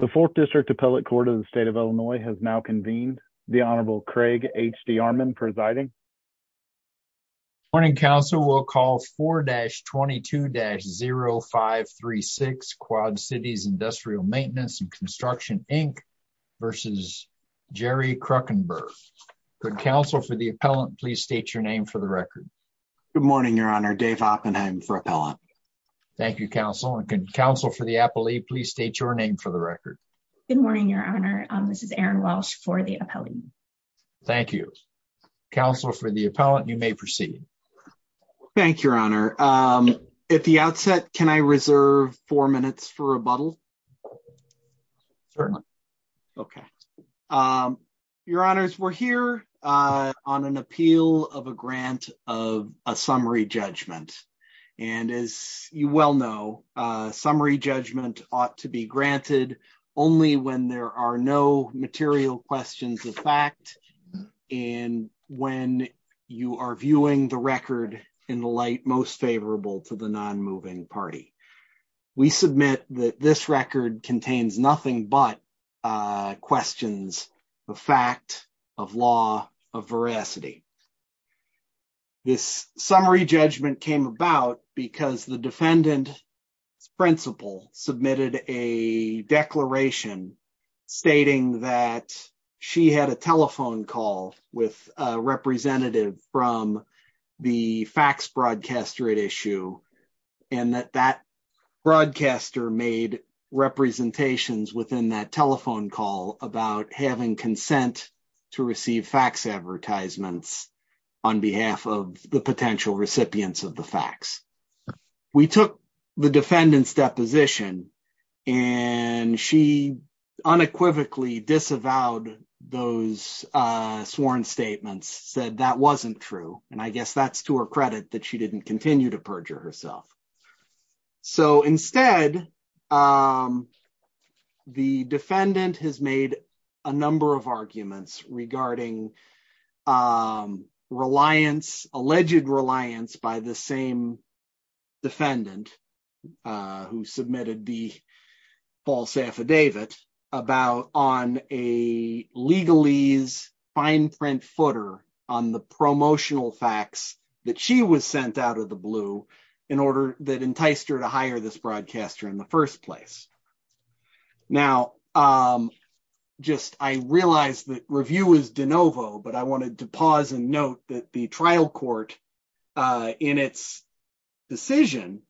The 4th District Appellate Court of the State of Illinois has now convened. The Honorable Craig H. D. Armon presiding. Good morning, Council. We'll call 4-22-0536 Quad Cities Industrial Maintenance & Construction, Inc. v. Jerry Kruckenberg. Could Council for the Appellant please state your name for the record? Good morning, Your Honor. Dave Oppenheim for Appellant. Thank you, Council. And could Council for the Appellate please state your name for the record? Good morning, Your Honor. This is Erin Welsh for the Appellant. Thank you. Council for the Appellant, you may proceed. Thank you, Your Honor. At the outset, can I reserve four minutes for rebuttal? Certainly. Okay. Your Honors, we're here on an appeal of a grant of a summary judgment. And as you well know, summary judgment ought to be granted only when there are no material questions of fact and when you are viewing the record in the light most favorable to the non-moving party. We submit that this record contains nothing but questions of fact, of law, of veracity. This summary judgment came about because the defendant's principal submitted a declaration stating that she had a telephone call with a representative from the fax broadcaster at issue. And that that broadcaster made representations within that telephone call about having consent to receive fax advertisements on behalf of the potential recipients of the fax. We took the defendant's deposition and she unequivocally disavowed those sworn statements, said that wasn't true. And I guess that's to her credit that she didn't continue to perjure herself. So instead, the defendant has made a number of arguments regarding reliance, alleged reliance by the same defendant who submitted the false affidavit about on a legalese fine print footer on the promotional fax that she was sent out of the blue in order that enticed her to hire this broadcaster in the first place. Now, I realize that review is de novo, but I wanted to pause and note that the trial court in its decision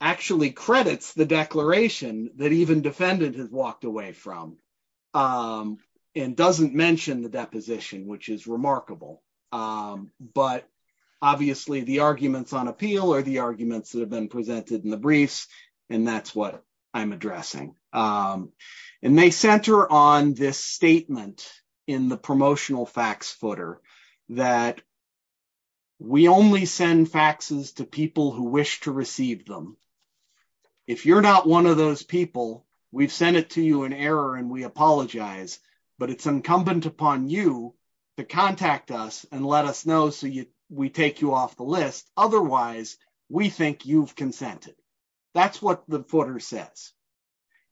actually credits the declaration that even defendant has walked away from and doesn't mention the deposition, which is remarkable. But obviously the arguments on appeal are the arguments that have been presented in the briefs, and that's what I'm addressing. And they center on this statement in the promotional fax footer that we only send faxes to people who wish to receive them. If you're not one of those people, we've sent it to you in error and we apologize, but it's incumbent upon you to contact us and let us know so we take you off the list. Otherwise, we think you've consented. That's what the footer says.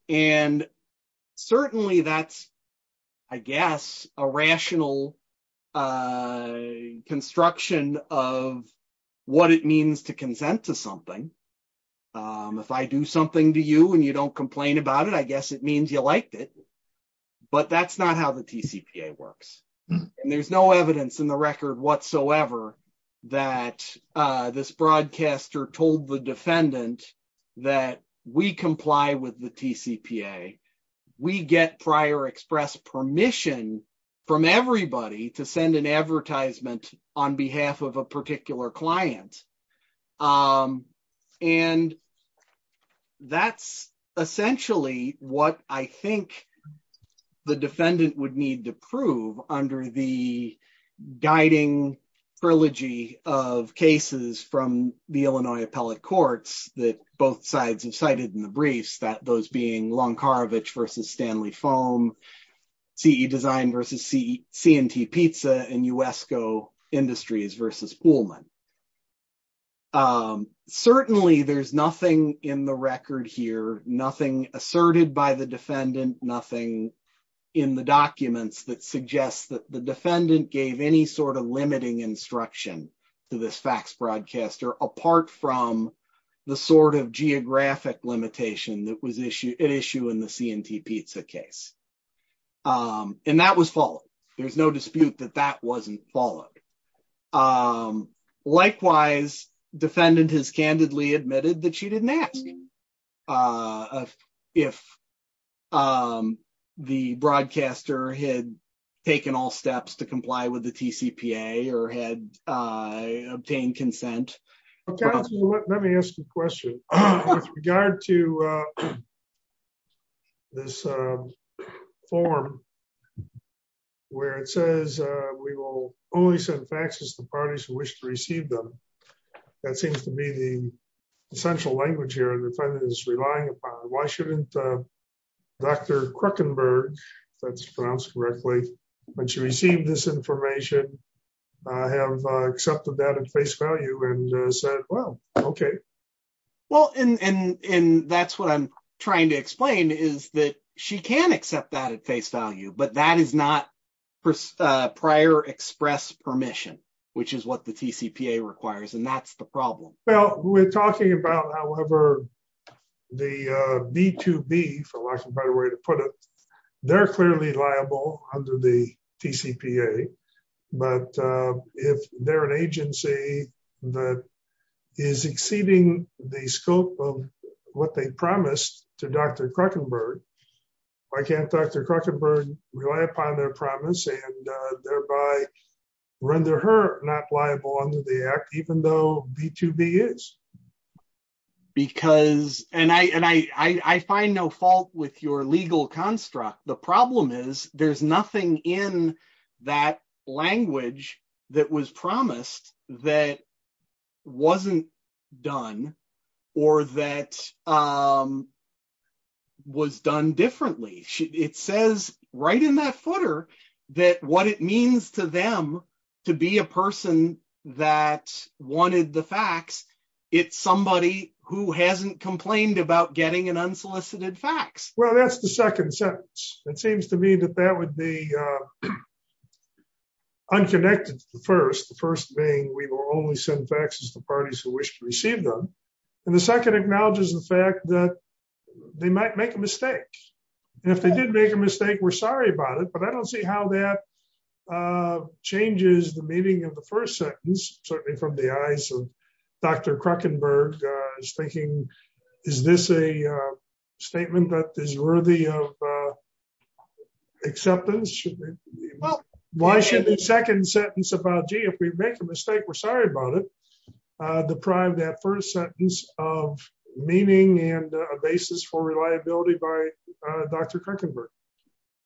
And certainly that's, I guess, a rational construction of what it means to consent to something. If I do something to you and you don't complain about it, I guess it means you liked it. But that's not how the TCPA works. And there's no evidence in the record whatsoever that this broadcaster told the defendant that we comply with the TCPA. We get prior express permission from everybody to send an advertisement on behalf of a particular client. And that's essentially what I think the defendant would need to prove under the guiding trilogy of cases from the Illinois Appellate Courts that both sides have cited in the briefs, those being Longkarovich v. Stanley Foam, CE Design v. C&T Pizza, and USCO Industries v. Poolman. Certainly, there's nothing in the record here, nothing asserted by the defendant, nothing in the documents that suggests that the defendant gave any sort of limiting instruction to this fax broadcaster apart from the sort of geographic limitation that was at issue in the C&T Pizza case. And that was followed. There's no dispute that that wasn't followed. Likewise, defendant has candidly admitted that she didn't ask if the broadcaster had taken all steps to comply with the TCPA or had obtained consent. Let me ask you a question. With regard to this form where it says, we will only send faxes to parties who wish to receive them. That seems to be the central language here the defendant is relying upon. Why shouldn't Dr. Kruckenberg, if that's pronounced correctly, when she received this information, have accepted that at face value and said, well, okay. Well, and that's what I'm trying to explain is that she can accept that at face value, but that is not prior express permission, which is what the TCPA requires and that's the problem. Well, we're talking about, however, the B2B, for lack of a better way to put it, they're clearly liable under the TCPA, but if they're an agency that is exceeding the scope of what they promised to Dr. Kruckenberg, why can't Dr. Kruckenberg rely upon their promise and thereby render her not liable under the act, even though B2B is? Because, and I find no fault with your legal construct. The problem is there's nothing in that language that was promised that wasn't done or that was done differently. It says right in that footer that what it means to them to be a person that wanted the facts, it's somebody who hasn't complained about getting an unsolicited fax. Well, that's the second sentence. It seems to me that that would be unconnected to the first, the first being we will only send faxes to parties who wish to receive them. And the second acknowledges the fact that they might make a mistake. And if they did make a mistake, we're sorry about it, but I don't see how that changes the meaning of the first sentence, certainly from the eyes of Dr. Kruckenberg, thinking, is this a statement that is worthy of acceptance? Why should the second sentence about, gee, if we make a mistake, we're sorry about it, deprive that first sentence of meaning and a basis for reliability by Dr. Kruckenberg?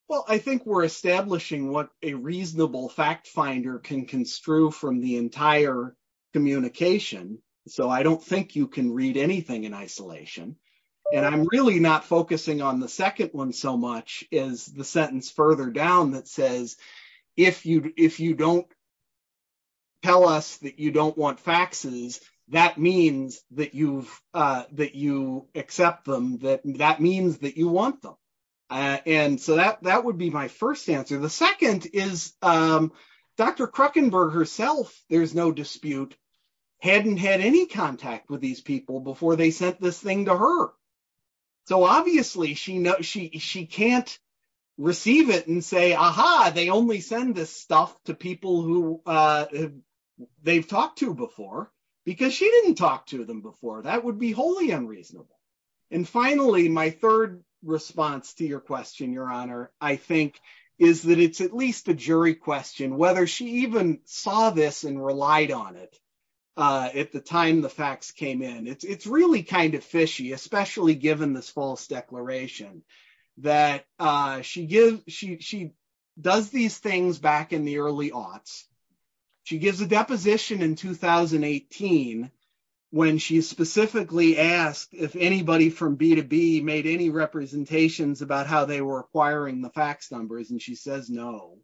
Well, I think we're establishing what a reasonable fact finder can construe from the entire communication. So I don't think you can read anything in isolation. And I'm really not focusing on the second one so much as the sentence further down that says, if you don't tell us that you don't want faxes, that means that you accept them, that means that you want them. And so that would be my first answer. The second is Dr. Kruckenberg herself, there's no dispute, hadn't had any contact with these people before they sent this thing to her. So obviously she can't receive it and say, aha, they only send this stuff to people who they've talked to before, because she didn't talk to them before. That would be wholly unreasonable. And finally, my third response to your question, Your Honor, I think, is that it's at least a jury question whether she even saw this and relied on it at the time the fax came in. It's really kind of fishy, especially given this false declaration that she does these things back in the early aughts. She gives a deposition in 2018, when she specifically asked if anybody from B2B made any representations about how they were acquiring the fax numbers and she says no.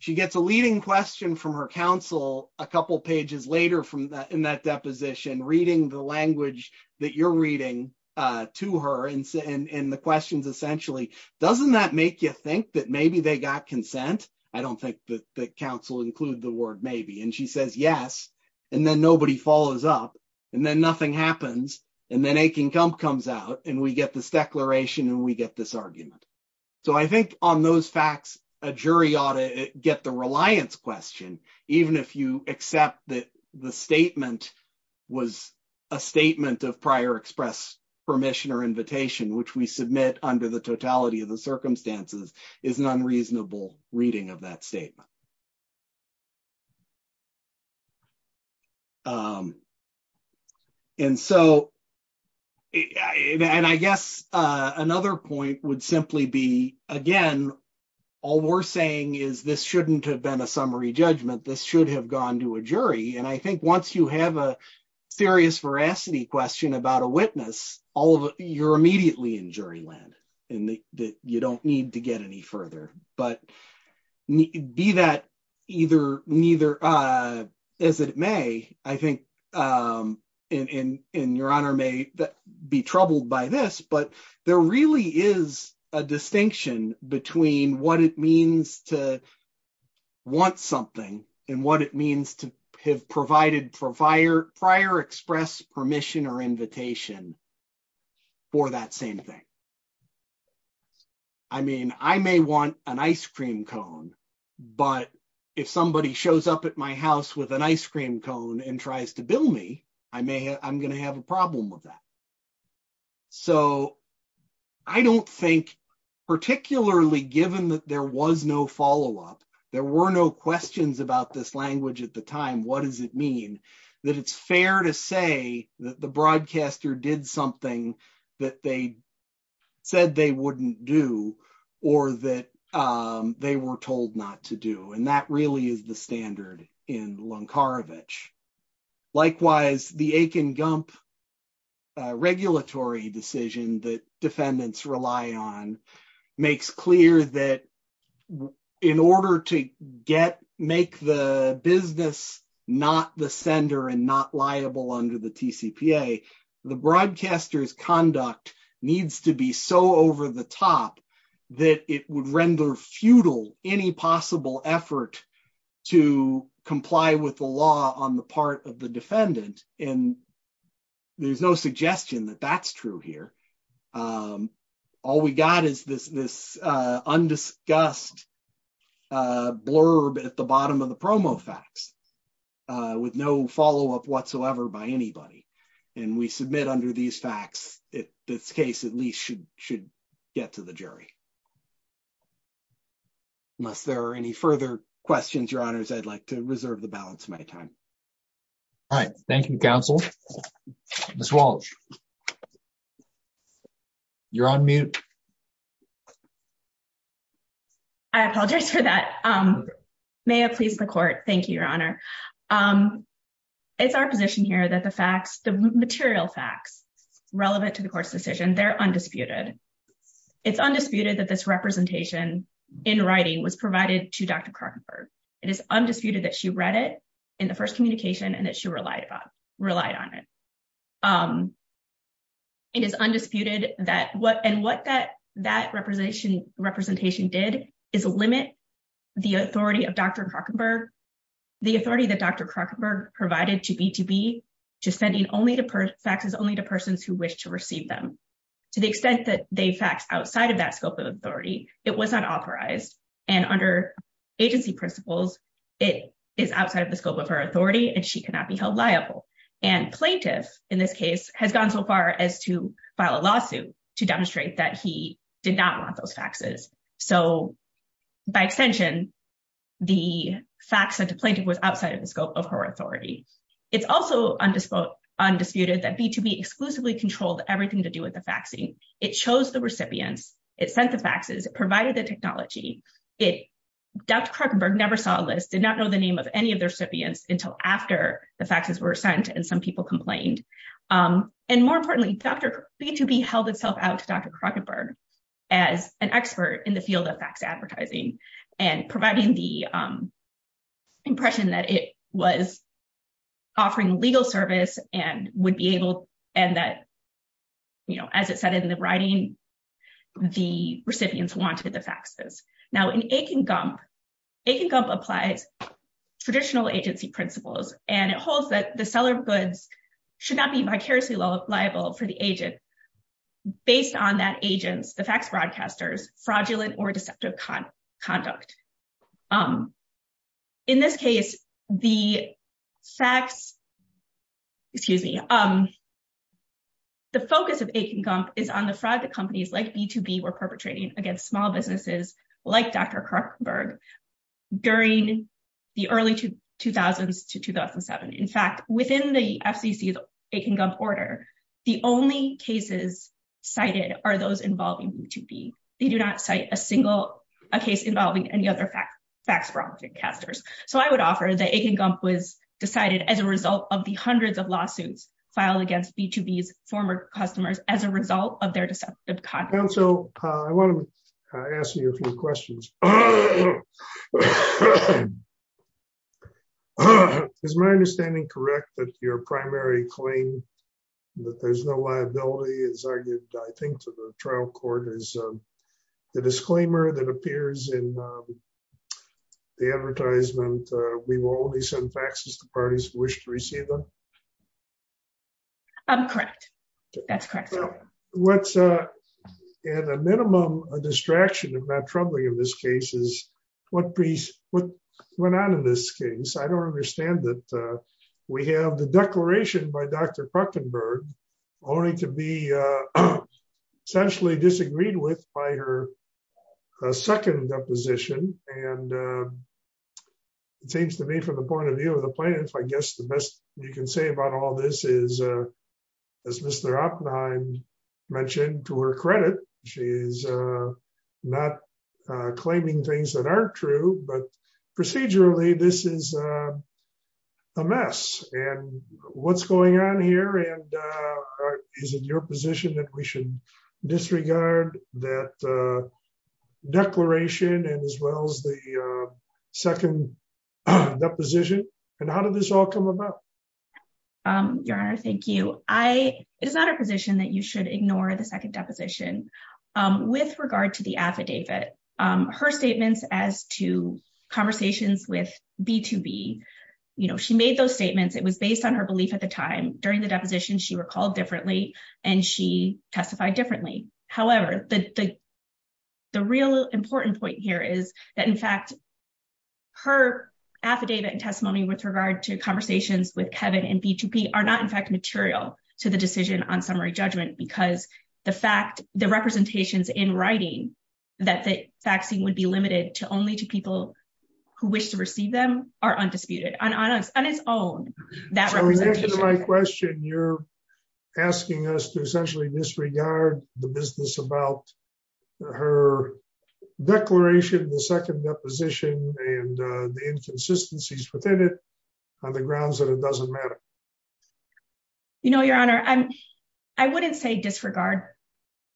She gets a leading question from her counsel a couple pages later in that deposition, reading the language that you're reading to her and the questions essentially, doesn't that make you think that maybe they got consent? I don't think that counsel include the word maybe. And she says yes. And then nobody follows up. And then nothing happens. And then Akin Cump comes out and we get this declaration and we get this argument. So I think on those facts, a jury ought to get the reliance question, even if you accept that the statement was a statement of prior express permission or invitation, which we submit under the totality of the circumstances is an unreasonable reading of that statement. And so I guess another point would simply be, again, all we're saying is this shouldn't have been a summary judgment. This should have gone to a jury. And I think once you have a serious veracity question about a witness, you're immediately in jury land and you don't need to get any further. But be that either, neither, as it may, I think, and your honor may be troubled by this, but there really is a distinction between what it means to want something and what it means to have provided prior express permission or invitation for that same thing. I mean, I may want an ice cream cone, but if somebody shows up at my house with an ice cream cone and tries to bill me, I'm going to have a problem with that. So I don't think, particularly given that there was no follow-up, there were no questions about this language at the time, what does it mean that it's fair to say that the broadcaster did something that they said they wouldn't do or that they were told not to do? And that really is the standard in Lunkarevich. Likewise, the Aiken-Gump regulatory decision that defendants rely on makes clear that in order to make the business not the sender and not liable under the TCPA, the broadcaster's conduct needs to be so over-the-top that it would render futile any possible effort to comply with the law on the part of the broadcaster. And that's true on the part of the defendant, and there's no suggestion that that's true here. All we got is this undiscussed blurb at the bottom of the promo fax with no follow-up whatsoever by anybody. And we submit under these facts that this case at least should get to the jury. Unless there are any further questions, Your Honors, I'd like to reserve the balance of my time. All right. Thank you, counsel. Ms. Walsh, you're on mute. I apologize for that. May it please the court. Thank you, Your Honor. It's our position here that the facts, the material facts relevant to the court's decision, they're undisputed. It's undisputed that this representation in writing was provided to Dr. Krakenberg. It is undisputed that she read it in the first communication and that she relied on it. It is undisputed that what and what that representation did is limit the authority of Dr. Krakenberg, the authority that Dr. Krakenberg provided to B2B to sending faxes only to persons who wish to receive them. To the extent that they fax outside of that scope of authority, it was not authorized. And under agency principles, it is outside of the scope of her authority and she cannot be held liable. And plaintiff, in this case, has gone so far as to file a lawsuit to demonstrate that he did not want those faxes. So, by extension, the fax sent to plaintiff was outside of the scope of her authority. It's also undisputed that B2B exclusively controlled everything to do with the faxing. It chose the recipients. It sent the faxes. It provided the technology. Dr. Krakenberg never saw a list, did not know the name of any of the recipients until after the faxes were sent and some people complained. And more importantly, B2B held itself out to Dr. Krakenberg as an expert in the field of fax advertising and providing the impression that it was offering legal service and would be able and that, you know, as it said in the writing, the recipients wanted the faxes. Now, in Akin Gump, Akin Gump applies traditional agency principles and it holds that the seller of goods should not be vicariously liable for the agent based on that agent's, the fax broadcaster's, fraudulent or deceptive conduct. In this case, the fax, excuse me, the focus of Akin Gump is on the fraud that companies like B2B were perpetrating against small businesses like Dr. Krakenberg during the early 2000s to 2007. In fact, within the FCC's Akin Gump order, the only cases cited are those involving B2B. They do not cite a single case involving any other fax broadcasters. So I would offer that Akin Gump was decided as a result of the hundreds of lawsuits filed against B2B's former customers as a result of their deceptive conduct. Counsel, I want to ask you a few questions. Is my understanding correct that your primary claim that there's no liability is argued, I think, to the trial court is the disclaimer that appears in the advertisement, we will only send faxes to parties who wish to receive them? Correct. That's correct. What's at a minimum a distraction, if not troubling in this case, is what went on in this case. I don't understand that we have the declaration by Dr. Krakenberg only to be essentially disagreed with by her second deposition. And it seems to me from the point of view of the plaintiff, I guess the best you can say about all this is, as Mr. Oppenheim mentioned, to her credit, she's not claiming things that aren't true, but procedurally, this is a mess. And what's going on here? And is it your position that we should disregard that declaration and as well as the second deposition? And how did this all come about? Your Honor, thank you. It is not a position that you should ignore the second deposition. With regard to the affidavit, her statements as to conversations with B2B, you know, she made those statements, it was based on her belief at the time. During the deposition, she recalled differently, and she testified differently. However, the real important point here is that in fact, her affidavit and testimony with regard to conversations with Kevin and B2B are not in fact material to the decision on summary judgment, because the fact, the representations in writing that the vaccine would be limited to only to people who wish to receive them are undisputed. So in answer to my question, you're asking us to essentially disregard the business about her declaration of the second deposition and the inconsistencies within it on the grounds that it doesn't matter. You know, Your Honor, I wouldn't say disregard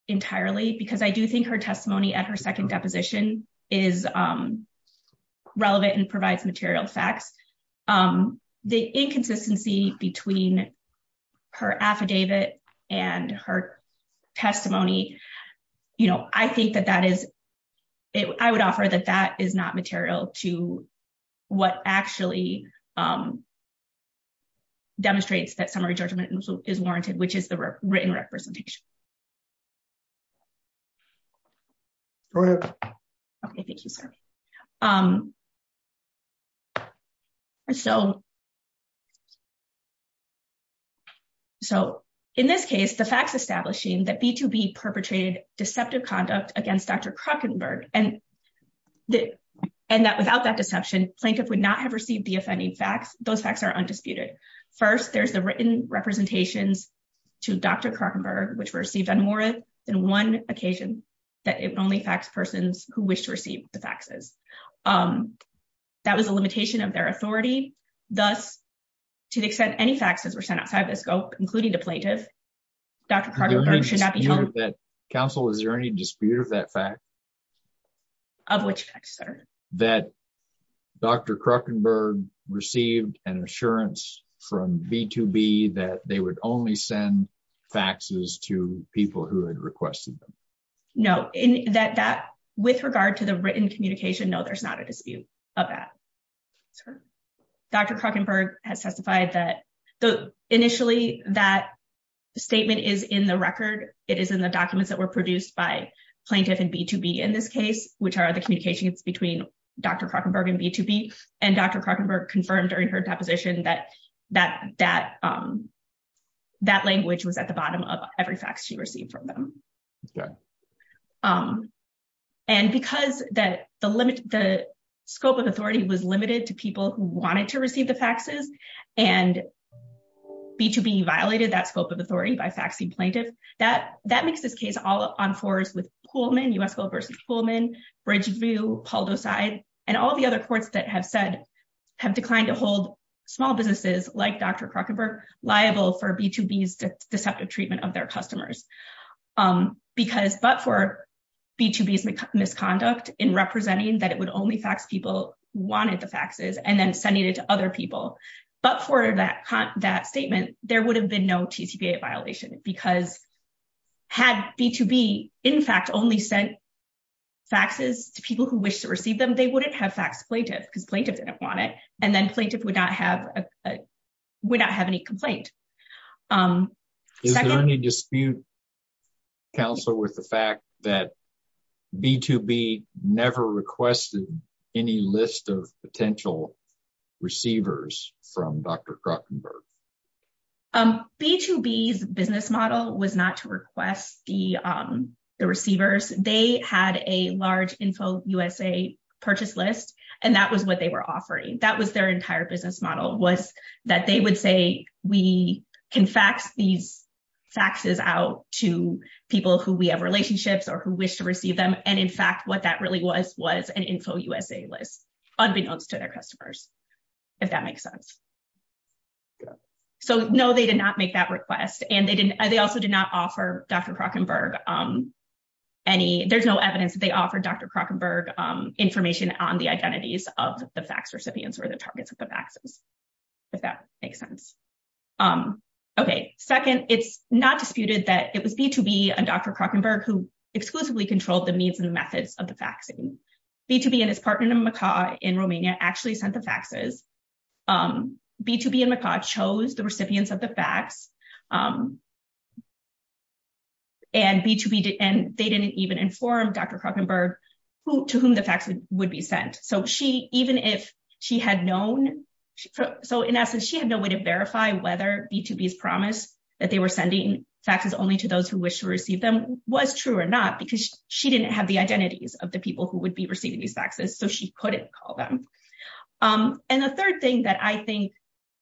entirely, because I do think her testimony at her second deposition is relevant and provides material facts. The inconsistency between her affidavit and her testimony, you know, I think that that is, I would offer that that is not material to what actually demonstrates that summary judgment is warranted, which is the written representation. Go ahead. Okay, thank you, sir. So, so, in this case, the facts establishing that B2B perpetrated deceptive conduct against Dr. Krokenberg, and that without that deception, plaintiff would not have received the offending facts, those facts are undisputed. First, there's the written representations to Dr. Krokenberg, which were received on more than one occasion, that it only facts persons who wish to receive the faxes. That was a limitation of their authority. Thus, to the extent any faxes were sent outside the scope, including the plaintiff, Dr. Krokenberg should not be held- Counsel, is there any dispute of that fact? Of which fact, sir? That Dr. Krokenberg received an assurance from B2B that they would only send faxes to people who had requested them. With regard to the written communication, no, there's not a dispute of that. Dr. Krokenberg has testified that initially that statement is in the record, it is in the documents that were produced by plaintiff and B2B in this case, which are the communications between Dr. Krokenberg and B2B, and Dr. Krokenberg confirmed during her deposition that that language was at the bottom of every fax she received from them. Okay. And because the scope of authority was limited to people who wanted to receive the faxes, and B2B violated that scope of authority by faxing plaintiff, that makes this case all on fours with Pullman, U.S. Gold vs. Pullman, Bridgeview, Poldoside, and all the other courts that have said- liable for B2B's deceptive treatment of their customers. But for B2B's misconduct in representing that it would only fax people who wanted the faxes and then sending it to other people. But for that statement, there would have been no TCPA violation because had B2B in fact only sent faxes to people who wished to receive them, they wouldn't have faxed plaintiff because plaintiff didn't want it. And then plaintiff would not have any complaint. Is there any dispute, Counselor, with the fact that B2B never requested any list of potential receivers from Dr. Krokenberg? B2B's business model was not to request the receivers. They had a large InfoUSA purchase list, and that was what they were offering. That was their entire business model was that they would say we can fax these faxes out to people who we have relationships or who wish to receive them. And in fact, what that really was was an InfoUSA list, unbeknownst to their customers, if that makes sense. So, no, they did not make that request. And they also did not offer Dr. Krokenberg any, there's no evidence that they offered Dr. Krokenberg information on the identities of the fax recipients or the targets of the faxes, if that makes sense. Okay, second, it's not disputed that it was B2B and Dr. Krokenberg who exclusively controlled the means and methods of the faxing. B2B and his partner in Macaw in Romania actually sent the faxes. B2B and Macaw chose the recipients of the fax, and they didn't even inform Dr. Krokenberg to whom the fax would be sent. So she, even if she had known, so in essence, she had no way to verify whether B2B's promise that they were sending faxes only to those who wish to receive them was true or not, because she didn't have the identities of the people who would be receiving these faxes, so she couldn't call them. And the third thing that I think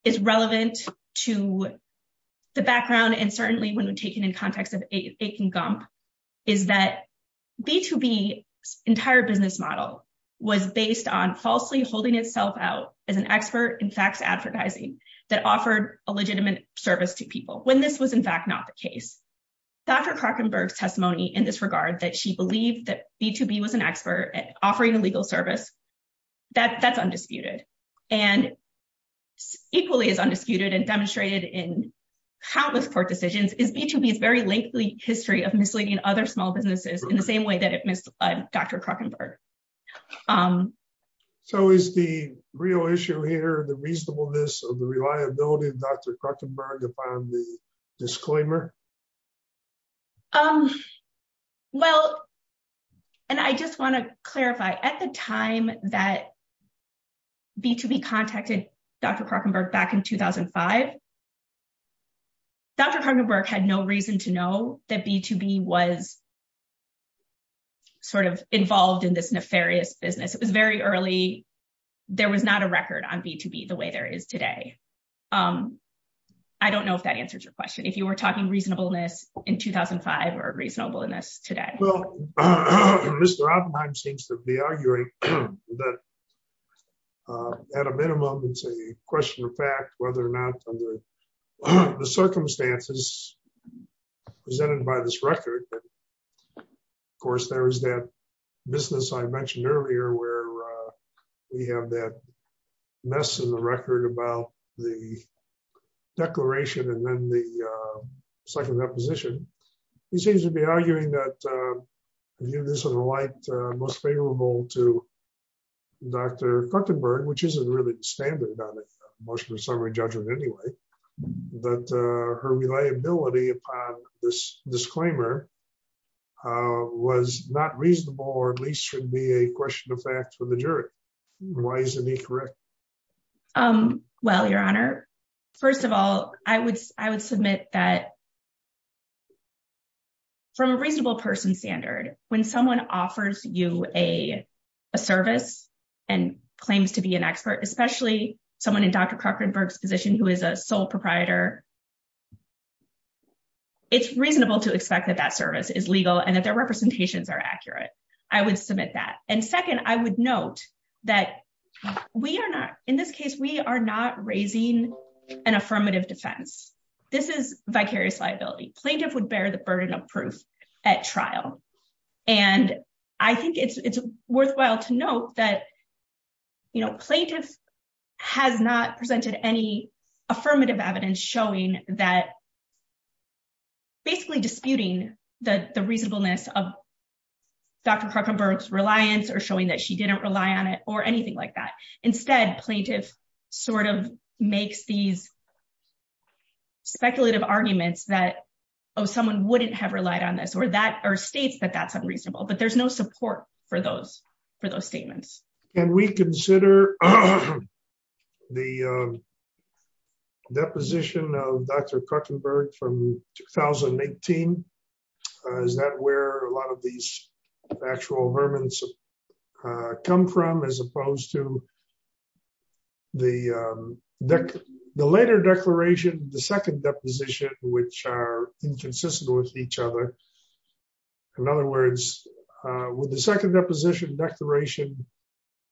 is relevant to the background, and certainly when we take it in context of Akin Gump, is that B2B's entire business model was based on falsely holding itself out as an expert in fax advertising that offered a legitimate service to people, when this was in fact not the case. Dr. Krokenberg's testimony in this regard, that she believed that B2B was an expert at offering a legal service, that's undisputed. And equally as undisputed and demonstrated in countless court decisions, is B2B's very lengthy history of misleading other small businesses in the same way that it misled Dr. Krokenberg. So is the real issue here the reasonableness of the reliability of Dr. Krokenberg upon the disclaimer? Um, well, and I just want to clarify, at the time that B2B contacted Dr. Krokenberg back in 2005, Dr. Krokenberg had no reason to know that B2B was sort of involved in this nefarious business. It was very early, there was not a record on B2B the way there is today. I don't know if that answers your question, if you were talking reasonableness in 2005 or reasonableness today. Well, Mr. Oppenheim seems to be arguing that at a minimum, it's a question of fact, whether or not under the circumstances presented by this record, of course, there is that business I mentioned earlier, where we have that mess in the record about the declaration and then the second reposition. He seems to be arguing that, in light most favorable to Dr. Krokenberg, which isn't really standard on a motion of summary judgment anyway, that her reliability upon this disclaimer was not reasonable, or at least should be a question of fact for the jury. Why isn't he correct? Well, Your Honor, first of all, I would submit that from a reasonable person standard, when someone offers you a service and claims to be an expert, especially someone in Dr. Krokenberg's position who is a sole proprietor, it's reasonable to expect that that service is legal and that their representations are accurate. I would submit that. And second, I would note that we are not, in this case, we are not raising an affirmative defense. This is vicarious liability. Plaintiff would bear the burden of proof at trial. And I think it's worthwhile to note that, you know, plaintiff has not presented any affirmative evidence showing that basically disputing the reasonableness of Dr. Krokenberg's reliance or showing that she didn't rely on it or anything like that. Instead, plaintiff sort of makes these speculative arguments that, oh, someone wouldn't have relied on this or states that that's unreasonable. But there's no support for those statements. Can we consider the deposition of Dr. Krokenberg from 2018? Is that where a lot of these actual vermin come from, as opposed to the later declaration, the second deposition, which are inconsistent with each other? In other words, with the second deposition declaration,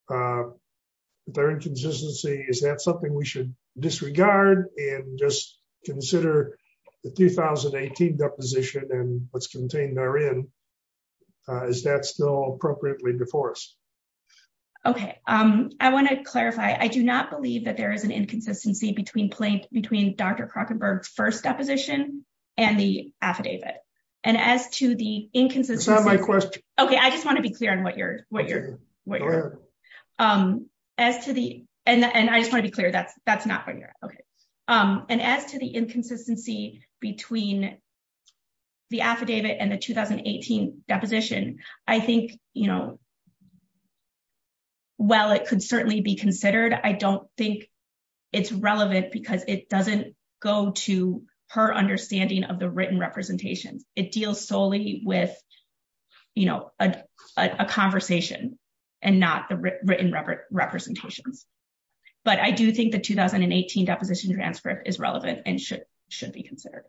their inconsistency, is that something we should disregard and just consider the 2018 deposition and what's contained therein? Is that still appropriately before us? Okay, I want to clarify. I do not believe that there is an inconsistency between Dr. Krokenberg's first deposition and the affidavit. And as to the inconsistency... Is that my question? Okay, I just want to be clear on what you're... Go ahead. As to the... And I just want to be clear, that's not what you're... Okay. And as to the inconsistency between the affidavit and the 2018 deposition, I think, you know, while it could certainly be considered, I don't think it's relevant because it doesn't go to her understanding of the written representations. It deals solely with, you know, a conversation and not the written representations. But I do think the 2018 deposition transcript is relevant and should be considered.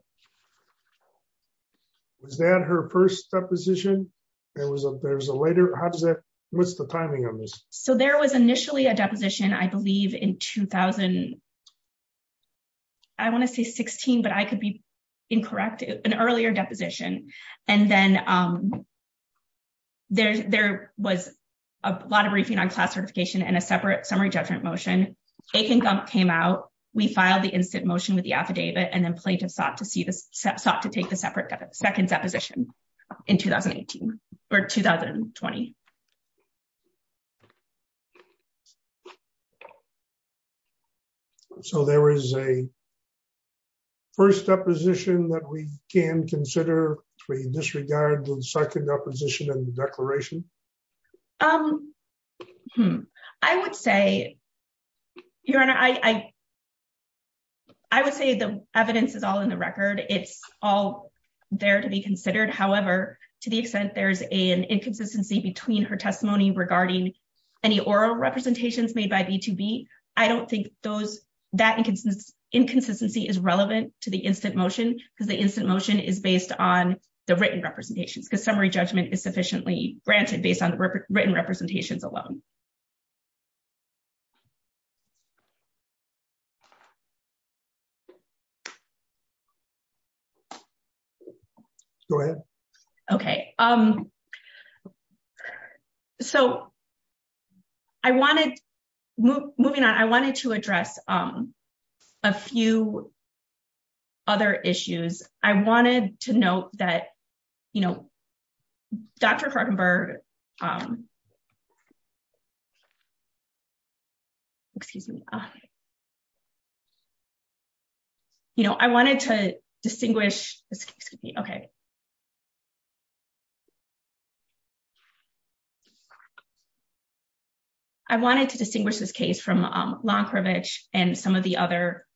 Was that her first deposition? There was a later... How does that... What's the timing of this? So there was initially a deposition, I believe, in 2000... I want to say 16, but I could be incorrect. An earlier deposition. And then there was a lot of briefing on class certification and a separate summary judgment motion. Akin Gump came out. We filed the instant motion with the affidavit and then plaintiff sought to see this... Sought to take the separate second deposition in 2018 or 2020. So there is a first deposition that we can consider with disregard to the second deposition in the declaration? I would say, Your Honor, I would say the evidence is all in the record. It's all there to be considered. However, to the extent there's an inconsistency between her testimony regarding any oral representations made by B2B. I don't think those... That inconsistency is relevant to the instant motion because the instant motion is based on the written representations because summary judgment is sufficiently granted based on the written representations alone. Go ahead. Okay. So, I wanted... Moving on, I wanted to address a few other issues. I wanted to note that, you know, Dr. Krokenberg... Excuse me. You know, I wanted to distinguish... Excuse me. Okay. I wanted to distinguish this case from Lankovich and some of the other...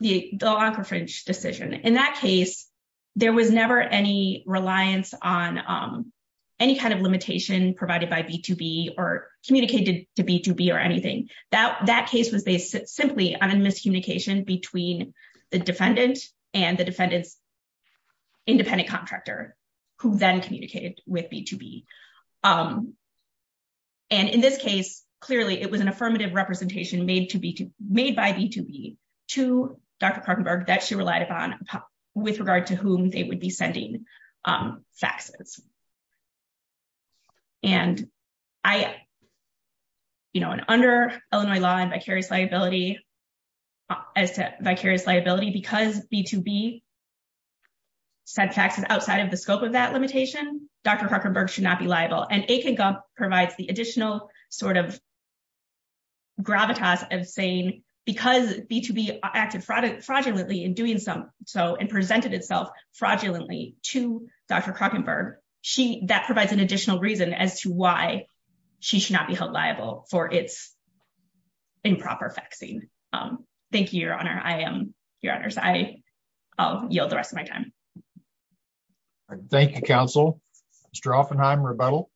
The Lankovich decision. In that case, there was never any reliance on any kind of limitation provided by B2B or communicated to B2B or anything. That case was based simply on a miscommunication between the defendant and the defendant's independent contractor, who then communicated with B2B. And in this case, clearly, it was an affirmative representation made by B2B to Dr. Krokenberg that she relied upon with regard to whom they would be sending faxes. And I... You know, under Illinois law and vicarious liability, as to vicarious liability, because B2B sent faxes outside of the scope of that limitation, Dr. Krokenberg should not be liable. And Akin Gump provides the additional sort of gravitas of saying, because B2B acted fraudulently in doing so and presented itself fraudulently to Dr. Krokenberg, that provides an additional reason as to why she should not be held liable for its improper faxing. Thank you, Your Honor. I am... Your Honors, I'll yield the rest of my time. Thank you, Counsel. Mr. Offenheim, rebuttal?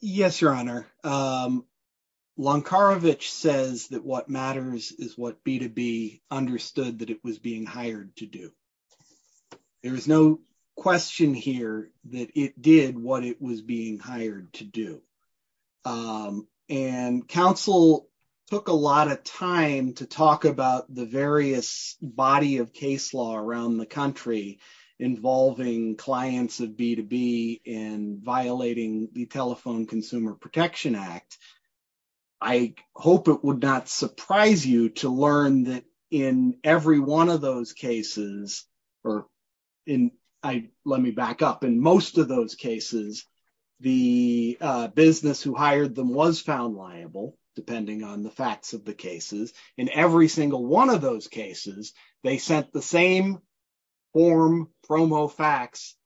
Yes, Your Honor. Lankarovich says that what matters is what B2B understood that it was being hired to do. There is no question here that it did what it was being hired to do. And Counsel took a lot of time to talk about the various body of case law around the country involving clients of B2B and violating the Telephone Consumer Protection Act. I hope it would not surprise you to learn that in every one of those cases, or in, let me back up, in most of those cases, the business who hired them was found liable, depending on the facts of the cases. In every single one of those cases, they sent the same form, promo fax,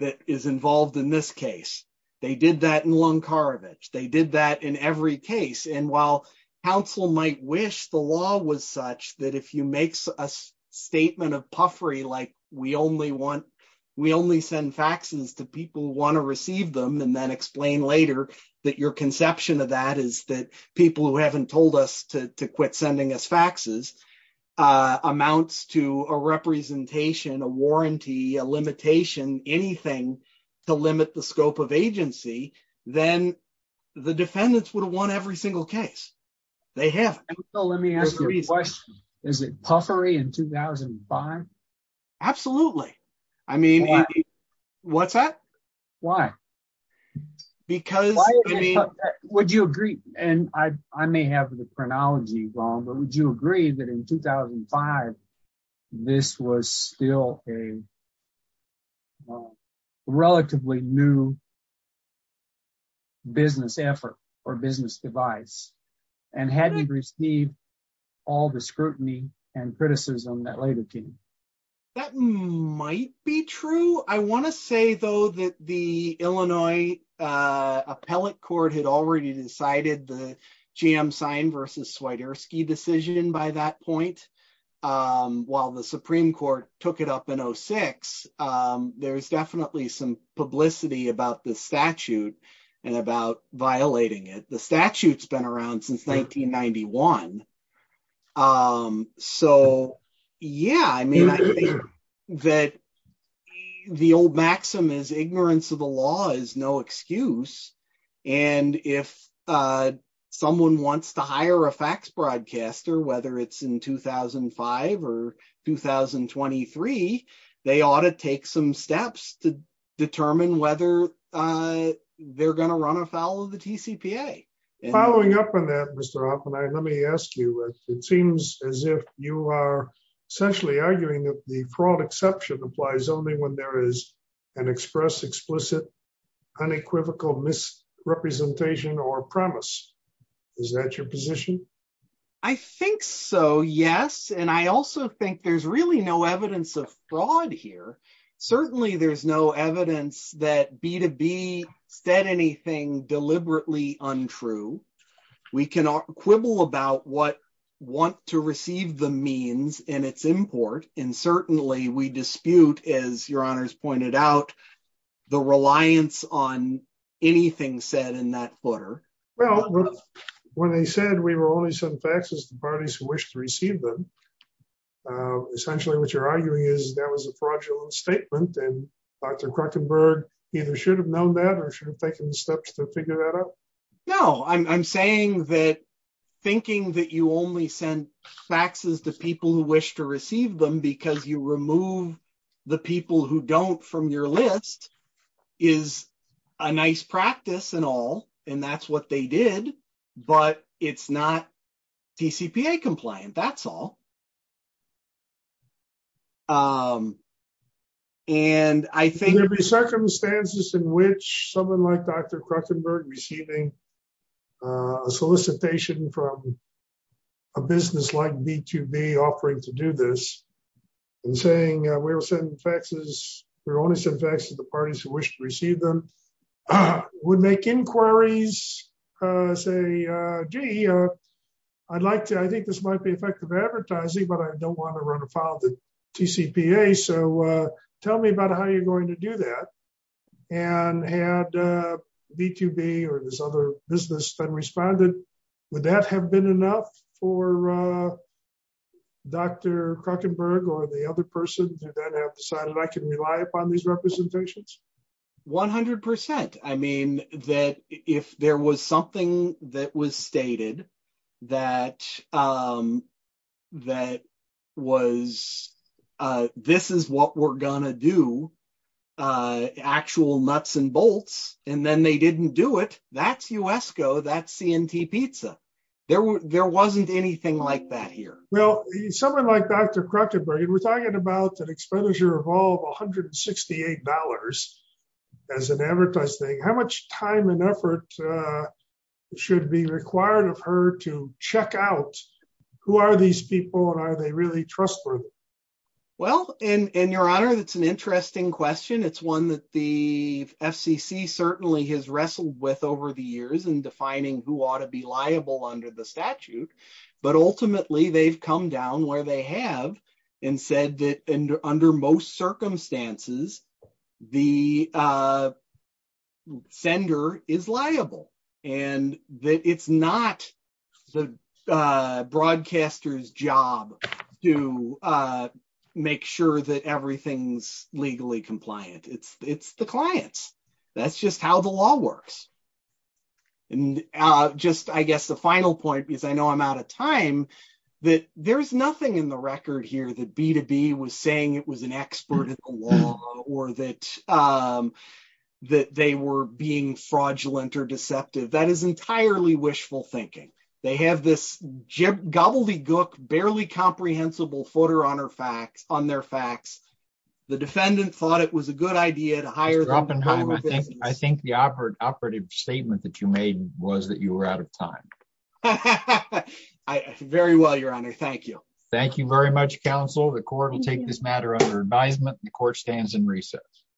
that is involved in this case. They did that in Lankarovich. They did that in every case. And while Counsel might wish the law was such that if you make a statement of puffery, like, we only send faxes to people who want to receive them, and then explain later that your conception of that is that people who haven't told us to quit sending us faxes amounts to a representation, a warranty, a limitation, anything to limit the scope of agency, then the defendants would have won every single case. They haven't. Let me ask you a question. Is it puffery in 2005? Absolutely. I mean, what's that? Why? Because... Would you agree, and I may have the chronology wrong, but would you agree that in 2005, this was still a relatively new business effort or business device, and hadn't received all the scrutiny and criticism that led to it? That might be true. I want to say, though, that the Illinois Appellate Court had already decided the GM sign versus Swiderski decision by that point, while the Supreme Court took it up in 06. There's definitely some publicity about the statute and about violating it. The statute's been around since 1991. So, yeah, I mean, I think that the old maxim is ignorance of the law is no excuse. And if someone wants to hire a fax broadcaster, whether it's in 2005 or 2023, they ought to take some steps to determine whether they're going to run afoul of the TCPA. Following up on that, Mr. Oppenheimer, let me ask you, it seems as if you are essentially arguing that the fraud exception applies only when there is an express, explicit, unequivocal misrepresentation or premise. Is that your position? I think so, yes. And I also think there's really no evidence of fraud here. Certainly, there's no evidence that B2B said anything deliberately untrue. We can quibble about what want to receive the means and its import, and certainly we dispute, as Your Honors pointed out, the reliance on anything said in that footer. Well, when they said we were only sending faxes to parties who wish to receive them, essentially what you're arguing is that was a fraudulent statement. And Dr. Kruckenberg either should have known that or should have taken steps to figure that out. No, I'm saying that thinking that you only send faxes to people who wish to receive them because you remove the people who don't from your list is a nice practice and all, and that's what they did, but it's not TCPA compliant, that's all. And I think... I don't want to run afoul of the TCPA, so tell me about how you're going to do that. And had B2B or this other business then responded, would that have been enough for Dr. Kruckenberg or the other person to then have decided, I can rely upon these representations? 100%. I mean, that if there was something that was stated that was, this is what we're gonna do, actual nuts and bolts, and then they didn't do it, that's USCO, that's C&T Pizza. There wasn't anything like that here. Well, someone like Dr. Kruckenberg, and we're talking about an expenditure of all of $168 as an advertised thing, how much time and effort should be required of her to check out who are these people and are they really trustworthy? Well, and Your Honor, that's an interesting question. It's one that the FCC certainly has wrestled with over the years in defining who ought to be liable under the statute. But ultimately, they've come down where they have and said that under most circumstances, the sender is liable. And that it's not the broadcaster's job to make sure that everything's legally compliant. It's the client's. That's just how the law works. And just I guess the final point, because I know I'm out of time, that there's nothing in the record here that B2B was saying it was an expert in the law or that they were being fraudulent or deceptive. That is entirely wishful thinking. They have this gobbledygook, barely comprehensible footer on their facts. The defendant thought it was a good idea to hire them. I think the operative statement that you made was that you were out of time. Very well, Your Honor. Thank you. Thank you very much, counsel. The court will take this matter under advisement. The court stands in recess.